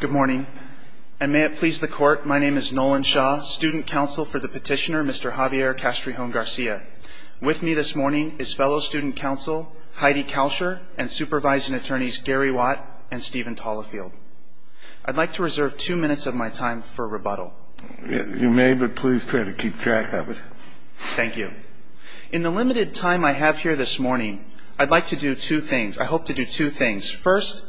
Good morning, and may it please the court, my name is Nolan Shaw, student counsel for the petitioner Mr. Javier Castrijon-Garcia. With me this morning is fellow student counsel Heidi Kalscher and supervising attorneys Gary Watt and Steven Tallafield. I'd like to reserve two minutes of my time for rebuttal. You may, but please try to keep track of it. Thank you. In the limited time I have here this morning, I'd like to do two things. I hope you'll allow me to do two things. First,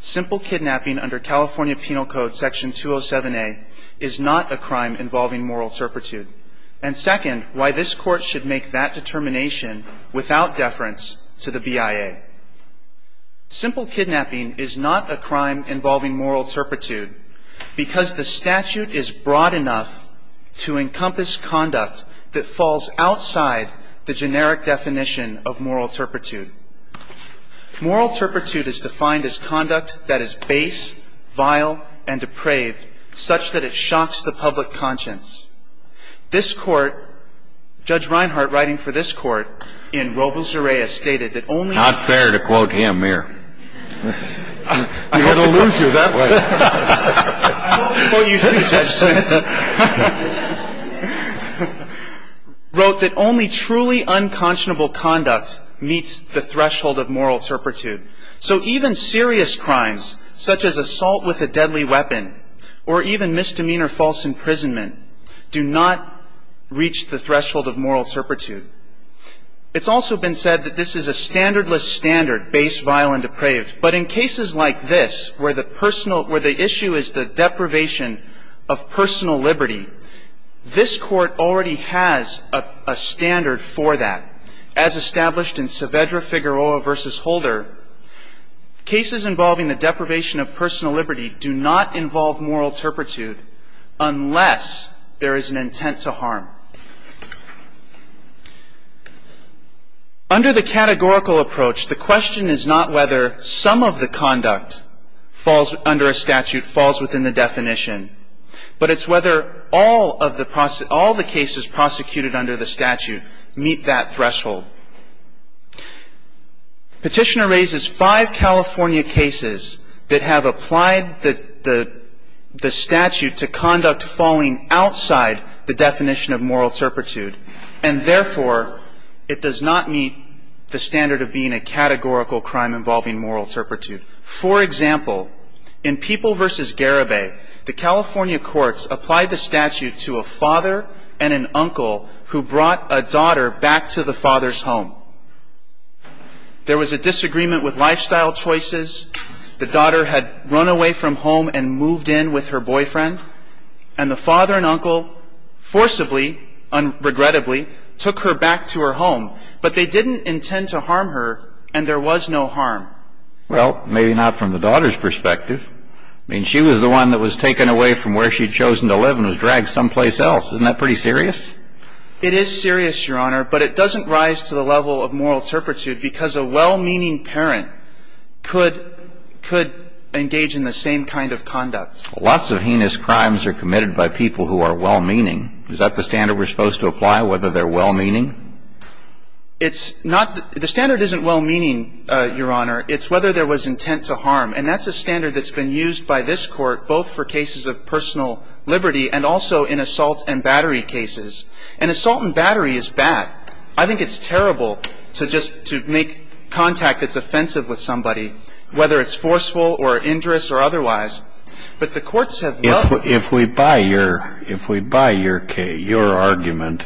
simple kidnapping under California Penal Code Section 207A is not a crime involving moral turpitude. And second, why this court should make that determination without deference to the BIA. Simple kidnapping is not a crime involving moral turpitude because the statute is broad enough to encompass conduct that falls outside the generic definition of moral turpitude. Moral turpitude is defined as conduct that is base, vile, and depraved, such that it shocks the public conscience. This Court, Judge Reinhart writing for this Court in Robles-Zureya, stated that only ‑‑ Not fair to quote him here. He would have loosed you that way. Well, you see, Judge Smith, wrote that only truly unconscionable conduct meets the threshold of moral turpitude. So even serious crimes, such as assault with a deadly weapon or even misdemeanor false imprisonment, do not reach the threshold of moral turpitude. It's also been said that this is a standardless standard, base, vile, and depraved. But in cases like this where the issue is the deprivation of personal liberty, this Court already has a versus holder, cases involving the deprivation of personal liberty do not involve moral turpitude unless there is an intent to harm. Under the categorical approach, the question is not whether some of the conduct falls under a statute, falls within the definition, but it's whether all of the cases prosecuted under the statute meet that threshold. Petitioner raises five California cases that have applied the statute to conduct falling outside the definition of moral turpitude and, therefore, it does not meet the standard of being a categorical crime involving moral turpitude. For example, in People v. Garibay, the California courts applied the statute to a father and uncle who brought a daughter back to the father's home. There was a disagreement with lifestyle choices. The daughter had run away from home and moved in with her boyfriend, and the father and uncle forcibly, regrettably, took her back to her home. But they didn't intend to harm her, and there was no harm. Well, maybe not from the daughter's perspective. I mean, she was the one that was taken away from where she had chosen to live and was dragged someplace else. Isn't that pretty serious? It is serious, Your Honor, but it doesn't rise to the level of moral turpitude because a well-meaning parent could engage in the same kind of conduct. Lots of heinous crimes are committed by people who are well-meaning. Is that the standard we're supposed to apply, whether they're well-meaning? It's not the standard isn't well-meaning, Your Honor. It's whether there was intent to harm, and that's a standard that's been used by this Court both for cases of personal liberty and also in assault and battery cases. And assault and battery is bad. I think it's terrible to just to make contact that's offensive with somebody, whether it's forceful or injurious or otherwise. But the courts have loved it. If we buy your argument,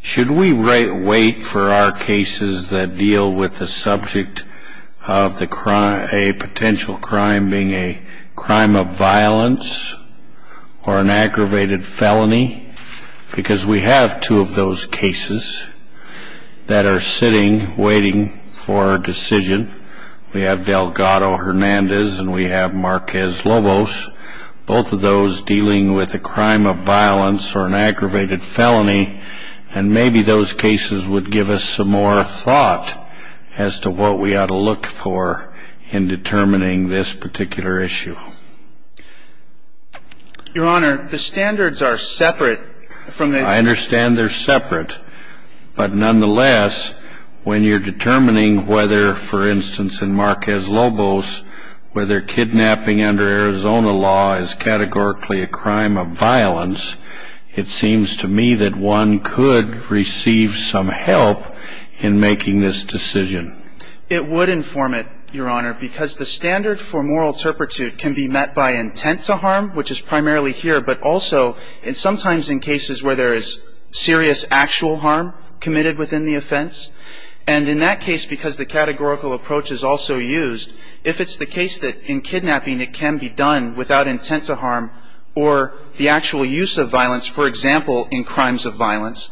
should we wait for our cases that deal with the subject of a potential crime being a crime of violence or an aggravated felony? Because we have two of those cases that are sitting waiting for a decision. We have Delgado-Hernandez and we have Marquez-Lobos, both of those dealing with a crime of violence or an aggravated felony, and maybe those cases would give us some more thought as to what we ought to look for in determining this particular issue. Your Honor, the standards are separate from the... I understand they're separate, but nonetheless, when you're determining whether, for instance, in Marquez-Lobos, whether kidnapping under Arizona law is categorically a crime of violence, it seems to me that one could receive some help in making this decision. It would inform it, Your Honor, because the standard for moral turpitude can be met by intent to harm, which is primarily here, but also sometimes in cases where there is serious actual harm committed within the offense. And in that case, because the categorical approach is also used, if it's the case that in kidnapping it can be done without intent to harm or the actual use of violence, for example, in crimes of violence,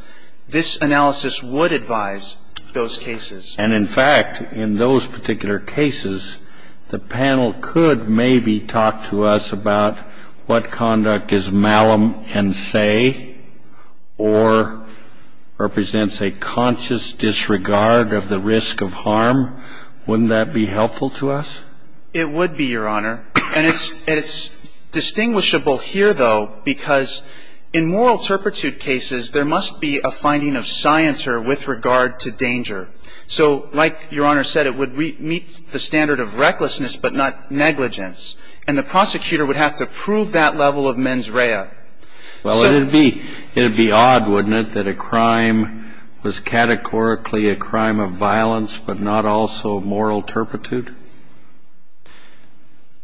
this analysis would advise those cases. And in fact, in those particular cases, the panel could maybe talk to us about what conduct is malum and say or represents a conscious disregard of the risk of harm. Wouldn't that be helpful to us? It would be, Your Honor. And it's distinguishable here, though, because in moral turpitude cases, there must be a finding of scienter with regard to danger. So like Your Honor said, it would meet the standard of recklessness, but not negligence. And the prosecutor would have to prove that level of mens rea. Well, it would be odd, wouldn't it, that a crime was categorically a crime of violence, but not also moral turpitude?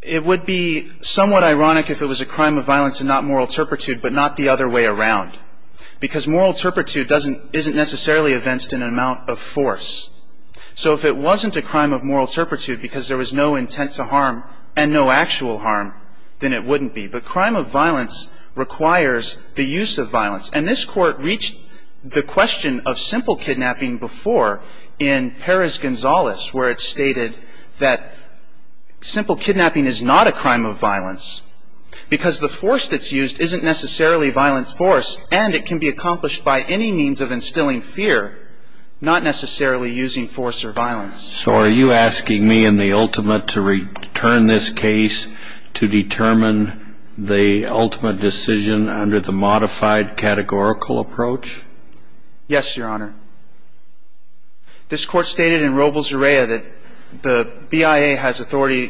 It would be somewhat ironic if it was a crime of violence and not moral turpitude, but not the other way around. Because moral turpitude doesn't, isn't necessarily evinced in an amount of force. So if it wasn't a crime of moral turpitude because there was no intent to harm and no actual harm, then it wouldn't be. But crime of violence requires the use of violence. And this Court reached the question of simple kidnapping before in Perez-Gonzalez, where it stated that simple kidnapping is not a crime of violence because the force that's used isn't necessarily violent force and it can be accomplished by any means of instilling fear, not necessarily using force or violence. So are you asking me in the ultimate to return this case to determine the ultimate decision under the modified categorical approach? Yes, Your Honor. This Court stated in Robles-Urrea that the BIA has authority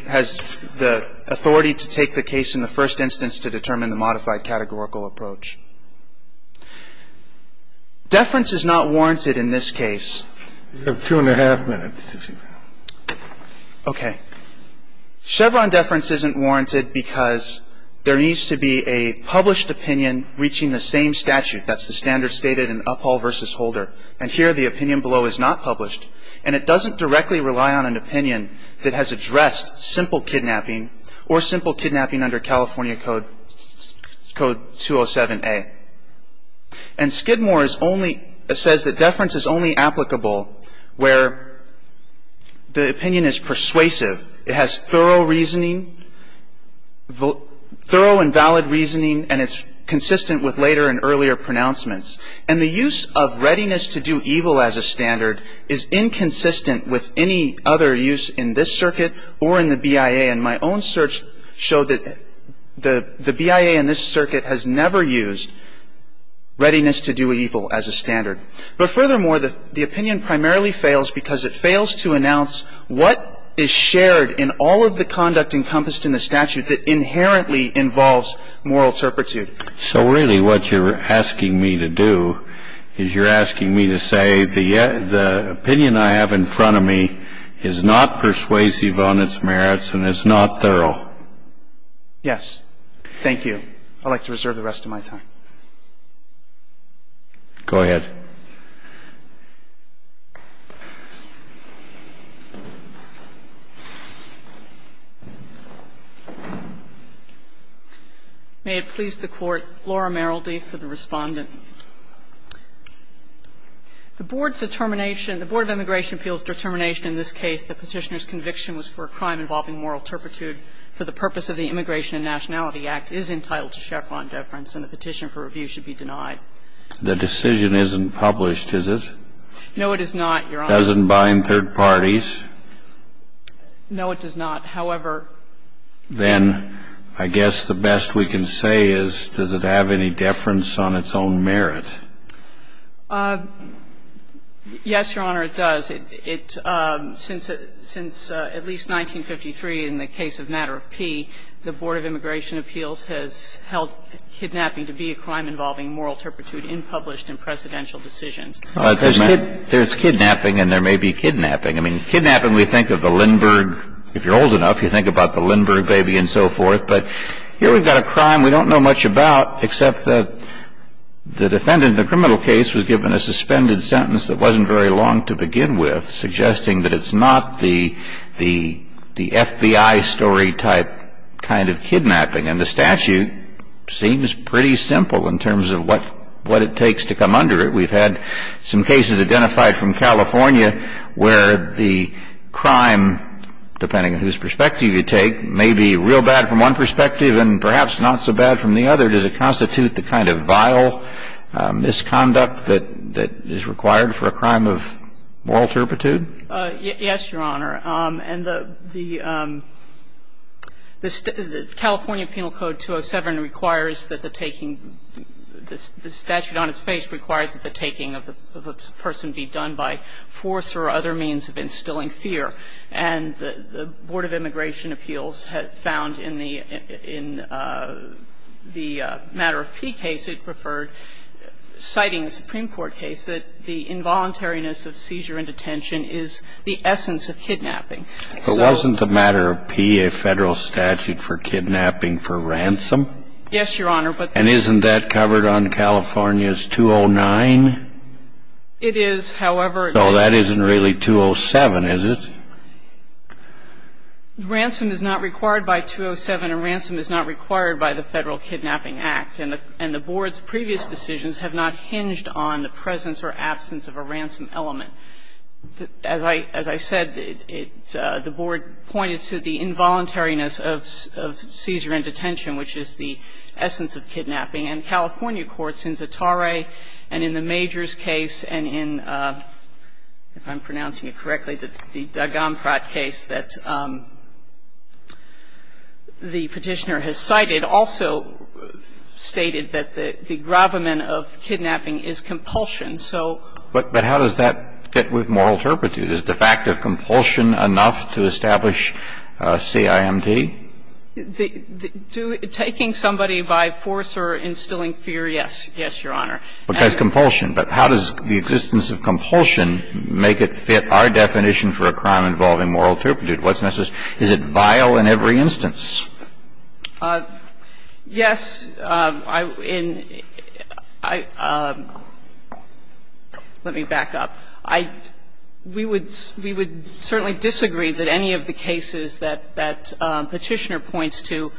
to take the case in the first instance to determine the modified categorical approach. Deference is not warranted in this case. You have two and a half minutes, Justice Alito. Okay. Chevron deference isn't warranted because there needs to be a published opinion reaching the same statute. That's the standard stated in Uphall v. Holder. And here the opinion below is not published. And it doesn't directly rely on an opinion that has addressed simple kidnapping or simple kidnapping under California Code 207A. And Skidmore says that deference is only applicable where the opinion is persuasive. It has thorough and valid reasoning and it's consistent with later and earlier pronouncements. And the use of readiness to do evil as a standard is inconsistent with any other use in this circuit or in the BIA. And my own search showed that the BIA in this circuit has never used readiness to do evil as a standard. But furthermore, the opinion primarily fails because it fails to announce what is shared in all of the conduct encompassed in the statute that inherently involves moral turpitude. So really what you're asking me to do is you're asking me to say the opinion I have in front of me is not persuasive on its merits and is not thorough. Yes. Thank you. I'd like to reserve the rest of my time. Go ahead. May it please the Court. Laura Merrildy for the Respondent. The Board's determination, the Board of Immigration Appeals' determination in this case the Petitioner's conviction was for a crime involving moral turpitude for the purpose of the Immigration and Nationality Act is entitled to Chevron deference and the petition for review should be denied. The decision isn't published, is it? No, it is not, Your Honor. It doesn't bind third parties? No, it does not. However, then I guess the best we can say is does it have any deference on its own merits? Yes, Your Honor, it does. Since at least 1953 in the case of Matter of P, the Board of Immigration Appeals has held kidnapping to be a crime involving moral turpitude unpublished in precedential decisions. There's kidnapping and there may be kidnapping. I mean, kidnapping, we think of the Lindbergh. If you're old enough, you think about the Lindbergh baby and so forth. But here we've got a crime we don't know much about except that the defendant in the criminal case was given a suspended sentence that wasn't very long to begin with, suggesting that it's not the FBI story type kind of kidnapping. And the statute seems pretty simple in terms of what it takes to come under it. We've had some cases identified from California where the crime, depending on whose perspective you take, may be real bad from one perspective and perhaps not so bad from the other. Does it constitute the kind of vile misconduct that is required for a crime of moral turpitude? Yes, Your Honor. And the California Penal Code 207 requires that the taking, the statute on its face requires that the taking of a person be done by force or other means of instilling fear. And the Board of Immigration Appeals found in the matter of P case, it referred citing a Supreme Court case, that the involuntariness of seizure and detention is the essence of kidnapping. But wasn't the matter of P a Federal statute for kidnapping for ransom? Yes, Your Honor. And isn't that covered on California's 209? It is, however. So that isn't really 207, is it? Ransom is not required by 207, and ransom is not required by the Federal Kidnapping Act. And the Board's previous decisions have not hinged on the presence or absence of a ransom element. As I said, the Board pointed to the involuntariness of seizure and detention, which is the essence of kidnapping. And California courts in Zatare and in the Majors case and in, if I'm pronouncing it correctly, the Dagamprat case that the Petitioner has cited also stated that the gravamen of kidnapping is compulsion. So ---- But how does that fit with moral turpitude? Is the fact of compulsion enough to establish CIMD? Taking somebody by force or instilling fear, yes. Yes, Your Honor. But that's compulsion. But how does the existence of compulsion make it fit our definition for a crime involving moral turpitude? What's necessary? Is it vile in every instance? Yes. In ---- let me back up. We would certainly disagree that any of the cases that Petitioner points to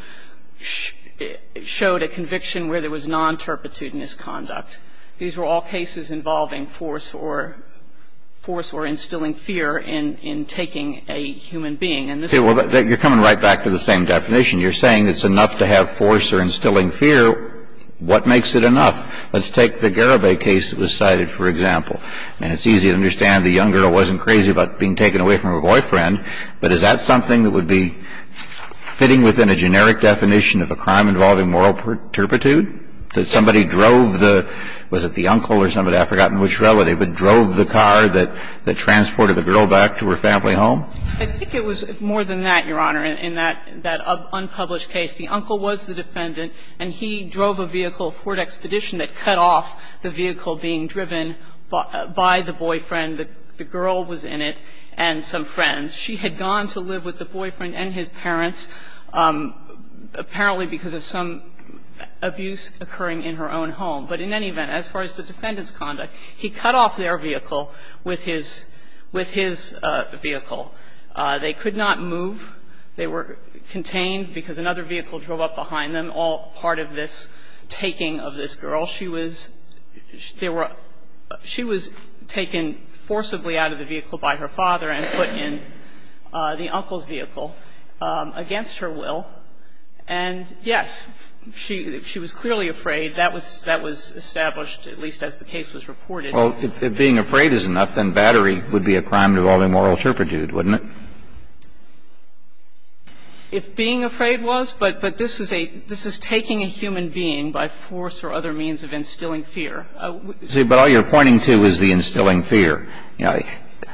showed a conviction where there was non-turpitude in his conduct. These were all cases involving force or ---- force or instilling fear in taking a human being. Okay. Well, you're coming right back to the same definition. You're saying it's enough to have force or instilling fear. What makes it enough? Let's take the Garibay case that was cited, for example. And it's easy to understand the young girl wasn't crazy about being taken away from her boyfriend, but is that something that would be fitting within a generic definition of a crime involving moral turpitude? That somebody drove the ---- was it the uncle or somebody? I've forgotten which relative, but drove the car that transported the girl back to her family home? I think it was more than that, Your Honor, in that unpublished case. The uncle was the defendant, and he drove a vehicle, a Ford Expedition, that cut off the vehicle being driven by the boyfriend. The girl was in it and some friends. She had gone to live with the boyfriend and his parents, apparently because of some abuse occurring in her own home. But in any event, as far as the defendant's conduct, he cut off their vehicle with his vehicle. They could not move. They were contained because another vehicle drove up behind them, all part of this taking of this girl. She was ---- they were ---- she was taken forcibly out of the vehicle by her father and put in the uncle's vehicle against her will. And, yes, she was clearly afraid. That was established, at least as the case was reported. Well, if being afraid is enough, then battery would be a crime involving moral turpitude, wouldn't it? If being afraid was, but this is a ---- this is taking a human being by force or other means of instilling fear. But all you're pointing to is the instilling fear. You know,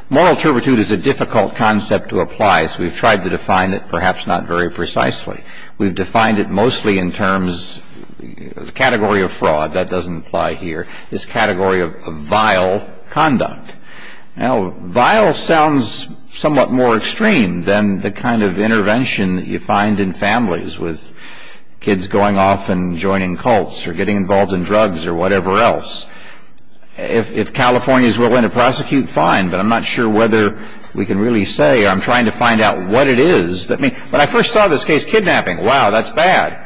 moral turpitude is a difficult concept to apply, so we've tried to define it, perhaps not very precisely. We've defined it mostly in terms, the category of fraud, that doesn't apply here, this category of vile conduct. Now, vile sounds somewhat more extreme than the kind of intervention that you find in families with kids going off and joining cults or getting involved in drugs or whatever else. If California is willing to prosecute, fine, but I'm not sure whether we can really say I'm trying to find out what it is. When I first saw this case, kidnapping, wow, that's bad.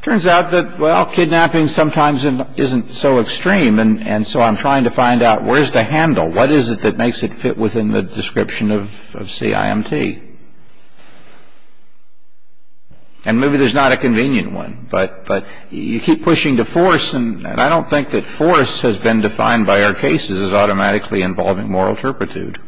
Turns out that, well, kidnapping sometimes isn't so extreme, and so I'm trying to find out where's the handle, what is it that makes it fit within the description of CIMT? And maybe there's not a convenient one, but you keep pushing to force, and I don't think that force has been defined by our cases as automatically involving moral turpitude.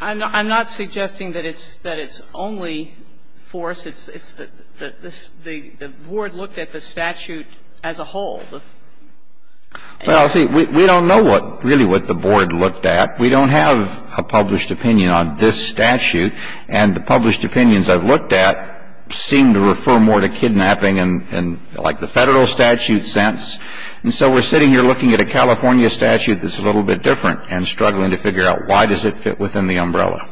I'm not suggesting that it's only force. It's that the Board looked at the statute as a whole. Well, see, we don't know really what the Board looked at. We don't have a published opinion on this statute, and the published opinions I've looked at seem to refer more to kidnapping in, like, the Federal statute sense. And so we're sitting here looking at a California statute that's a little bit different, and struggling to figure out why does it fit within the umbrella.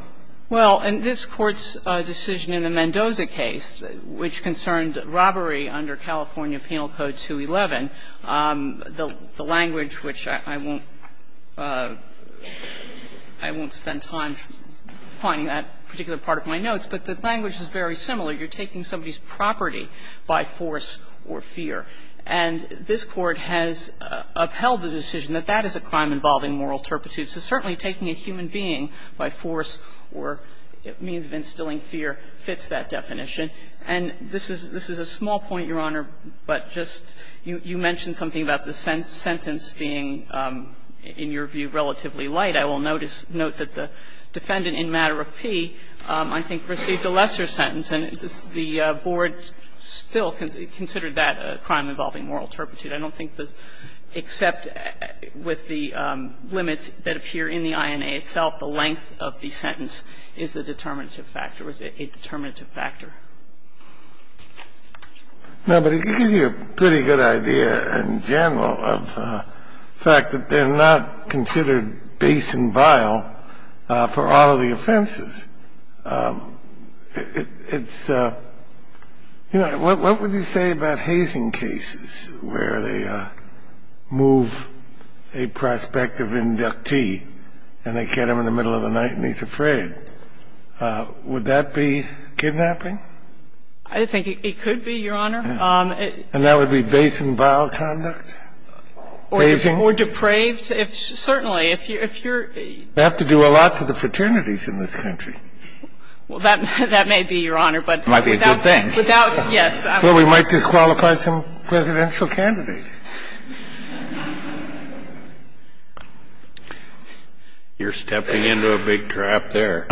Well, and this Court's decision in the Mendoza case, which concerned robbery under California Penal Code 211, the language, which I won't spend time pointing that particular part of my notes, but the language is very similar. You're taking somebody's property by force or fear. And this Court has upheld the decision that that is a crime involving moral turpitude. So certainly taking a human being by force or means of instilling fear fits that definition. And this is a small point, Your Honor, but just you mentioned something about the sentence being, in your view, relatively light. I will note that the defendant in matter of P, I think, received a lesser sentence, and the board still considered that a crime involving moral turpitude. I don't think this, except with the limits that appear in the INA itself, the length of the sentence is the determinative factor, was a determinative factor. No, but it gives you a pretty good idea, in general, of the fact that they're not considered base and vile for all of the offenses. It's, you know, what would you say about hazing cases where they move a prospect of inductee and they get him in the middle of the night and he's afraid? Would that be kidnapping? I think it could be, Your Honor. And that would be base and vile conduct? Or depraved? Certainly. If you're... They have to do a lot to the fraternities in this country. Well, that may be, Your Honor, but without... Might be a good thing. Without, yes. Well, we might disqualify some presidential candidates. You're stepping into a big trap there.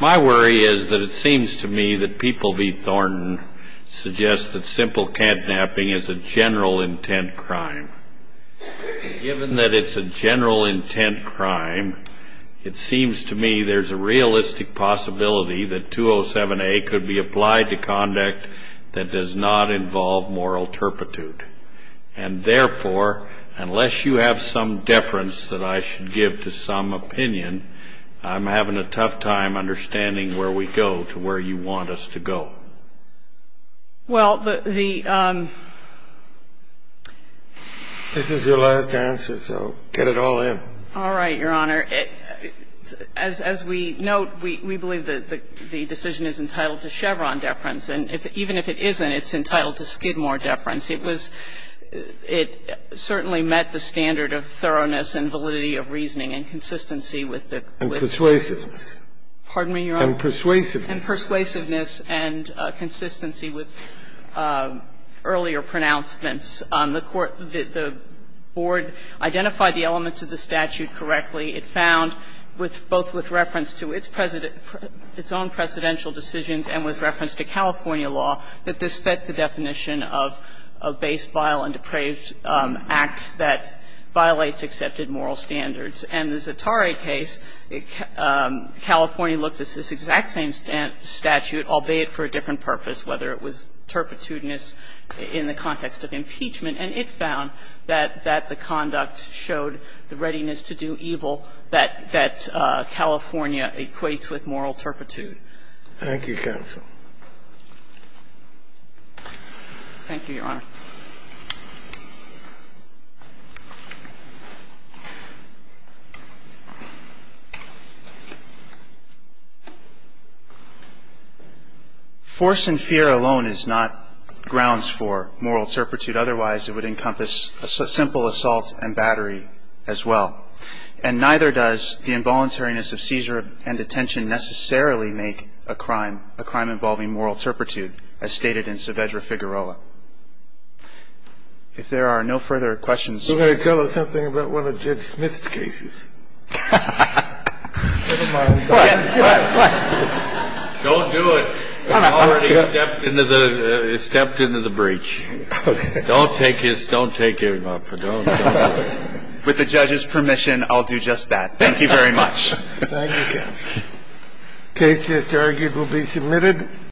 My worry is that it seems to me that People v. Thornton suggests that simple kidnapping is a general intent crime. Given that it's a general intent crime, it seems to me there's a realistic possibility that 207A could be applied to conduct that does not involve moral turpitude. And therefore, unless you have some deference that I should give to some opinion, I'm having a tough time understanding where we go to where you want us to go. Well, the... This is your last answer, so get it all in. All right, Your Honor. As we note, we believe that the decision is entitled to Chevron deference. And even if it isn't, it's entitled to Skidmore deference. It certainly met the standard of thoroughness and validity of reasoning and consistency with the... And persuasiveness. Pardon me, Your Honor? And persuasiveness. And persuasiveness and consistency with earlier pronouncements. The Court, the Board identified the elements of the statute correctly. It found, both with reference to its own presidential decisions and with reference to California law, that this fit the definition of a base, vile, and depraved act that violates accepted moral standards. And the Zatare case, California looked at this exact same statute, albeit for a different purpose, whether it was turpitude in the context of impeachment, and it found that the conduct showed the readiness to do evil that California equates with moral turpitude. Thank you, counsel. Thank you, Your Honor. Force and fear alone is not grounds for moral turpitude. Otherwise, it would encompass a simple assault and battery as well. And neither does the involuntariness of seizure and detention necessarily make a crime, a crime involving moral turpitude, as stated in Saavedra Figueroa. If there are no further questions. You're going to tell us something about one of Judge Smith's cases. Never mind. Don't do it. I've already stepped into the breach. Okay. Don't take his, don't take him up. With the judge's permission, I'll do just that. Thank you very much. Thank you, counsel. The case is argued will be submitted.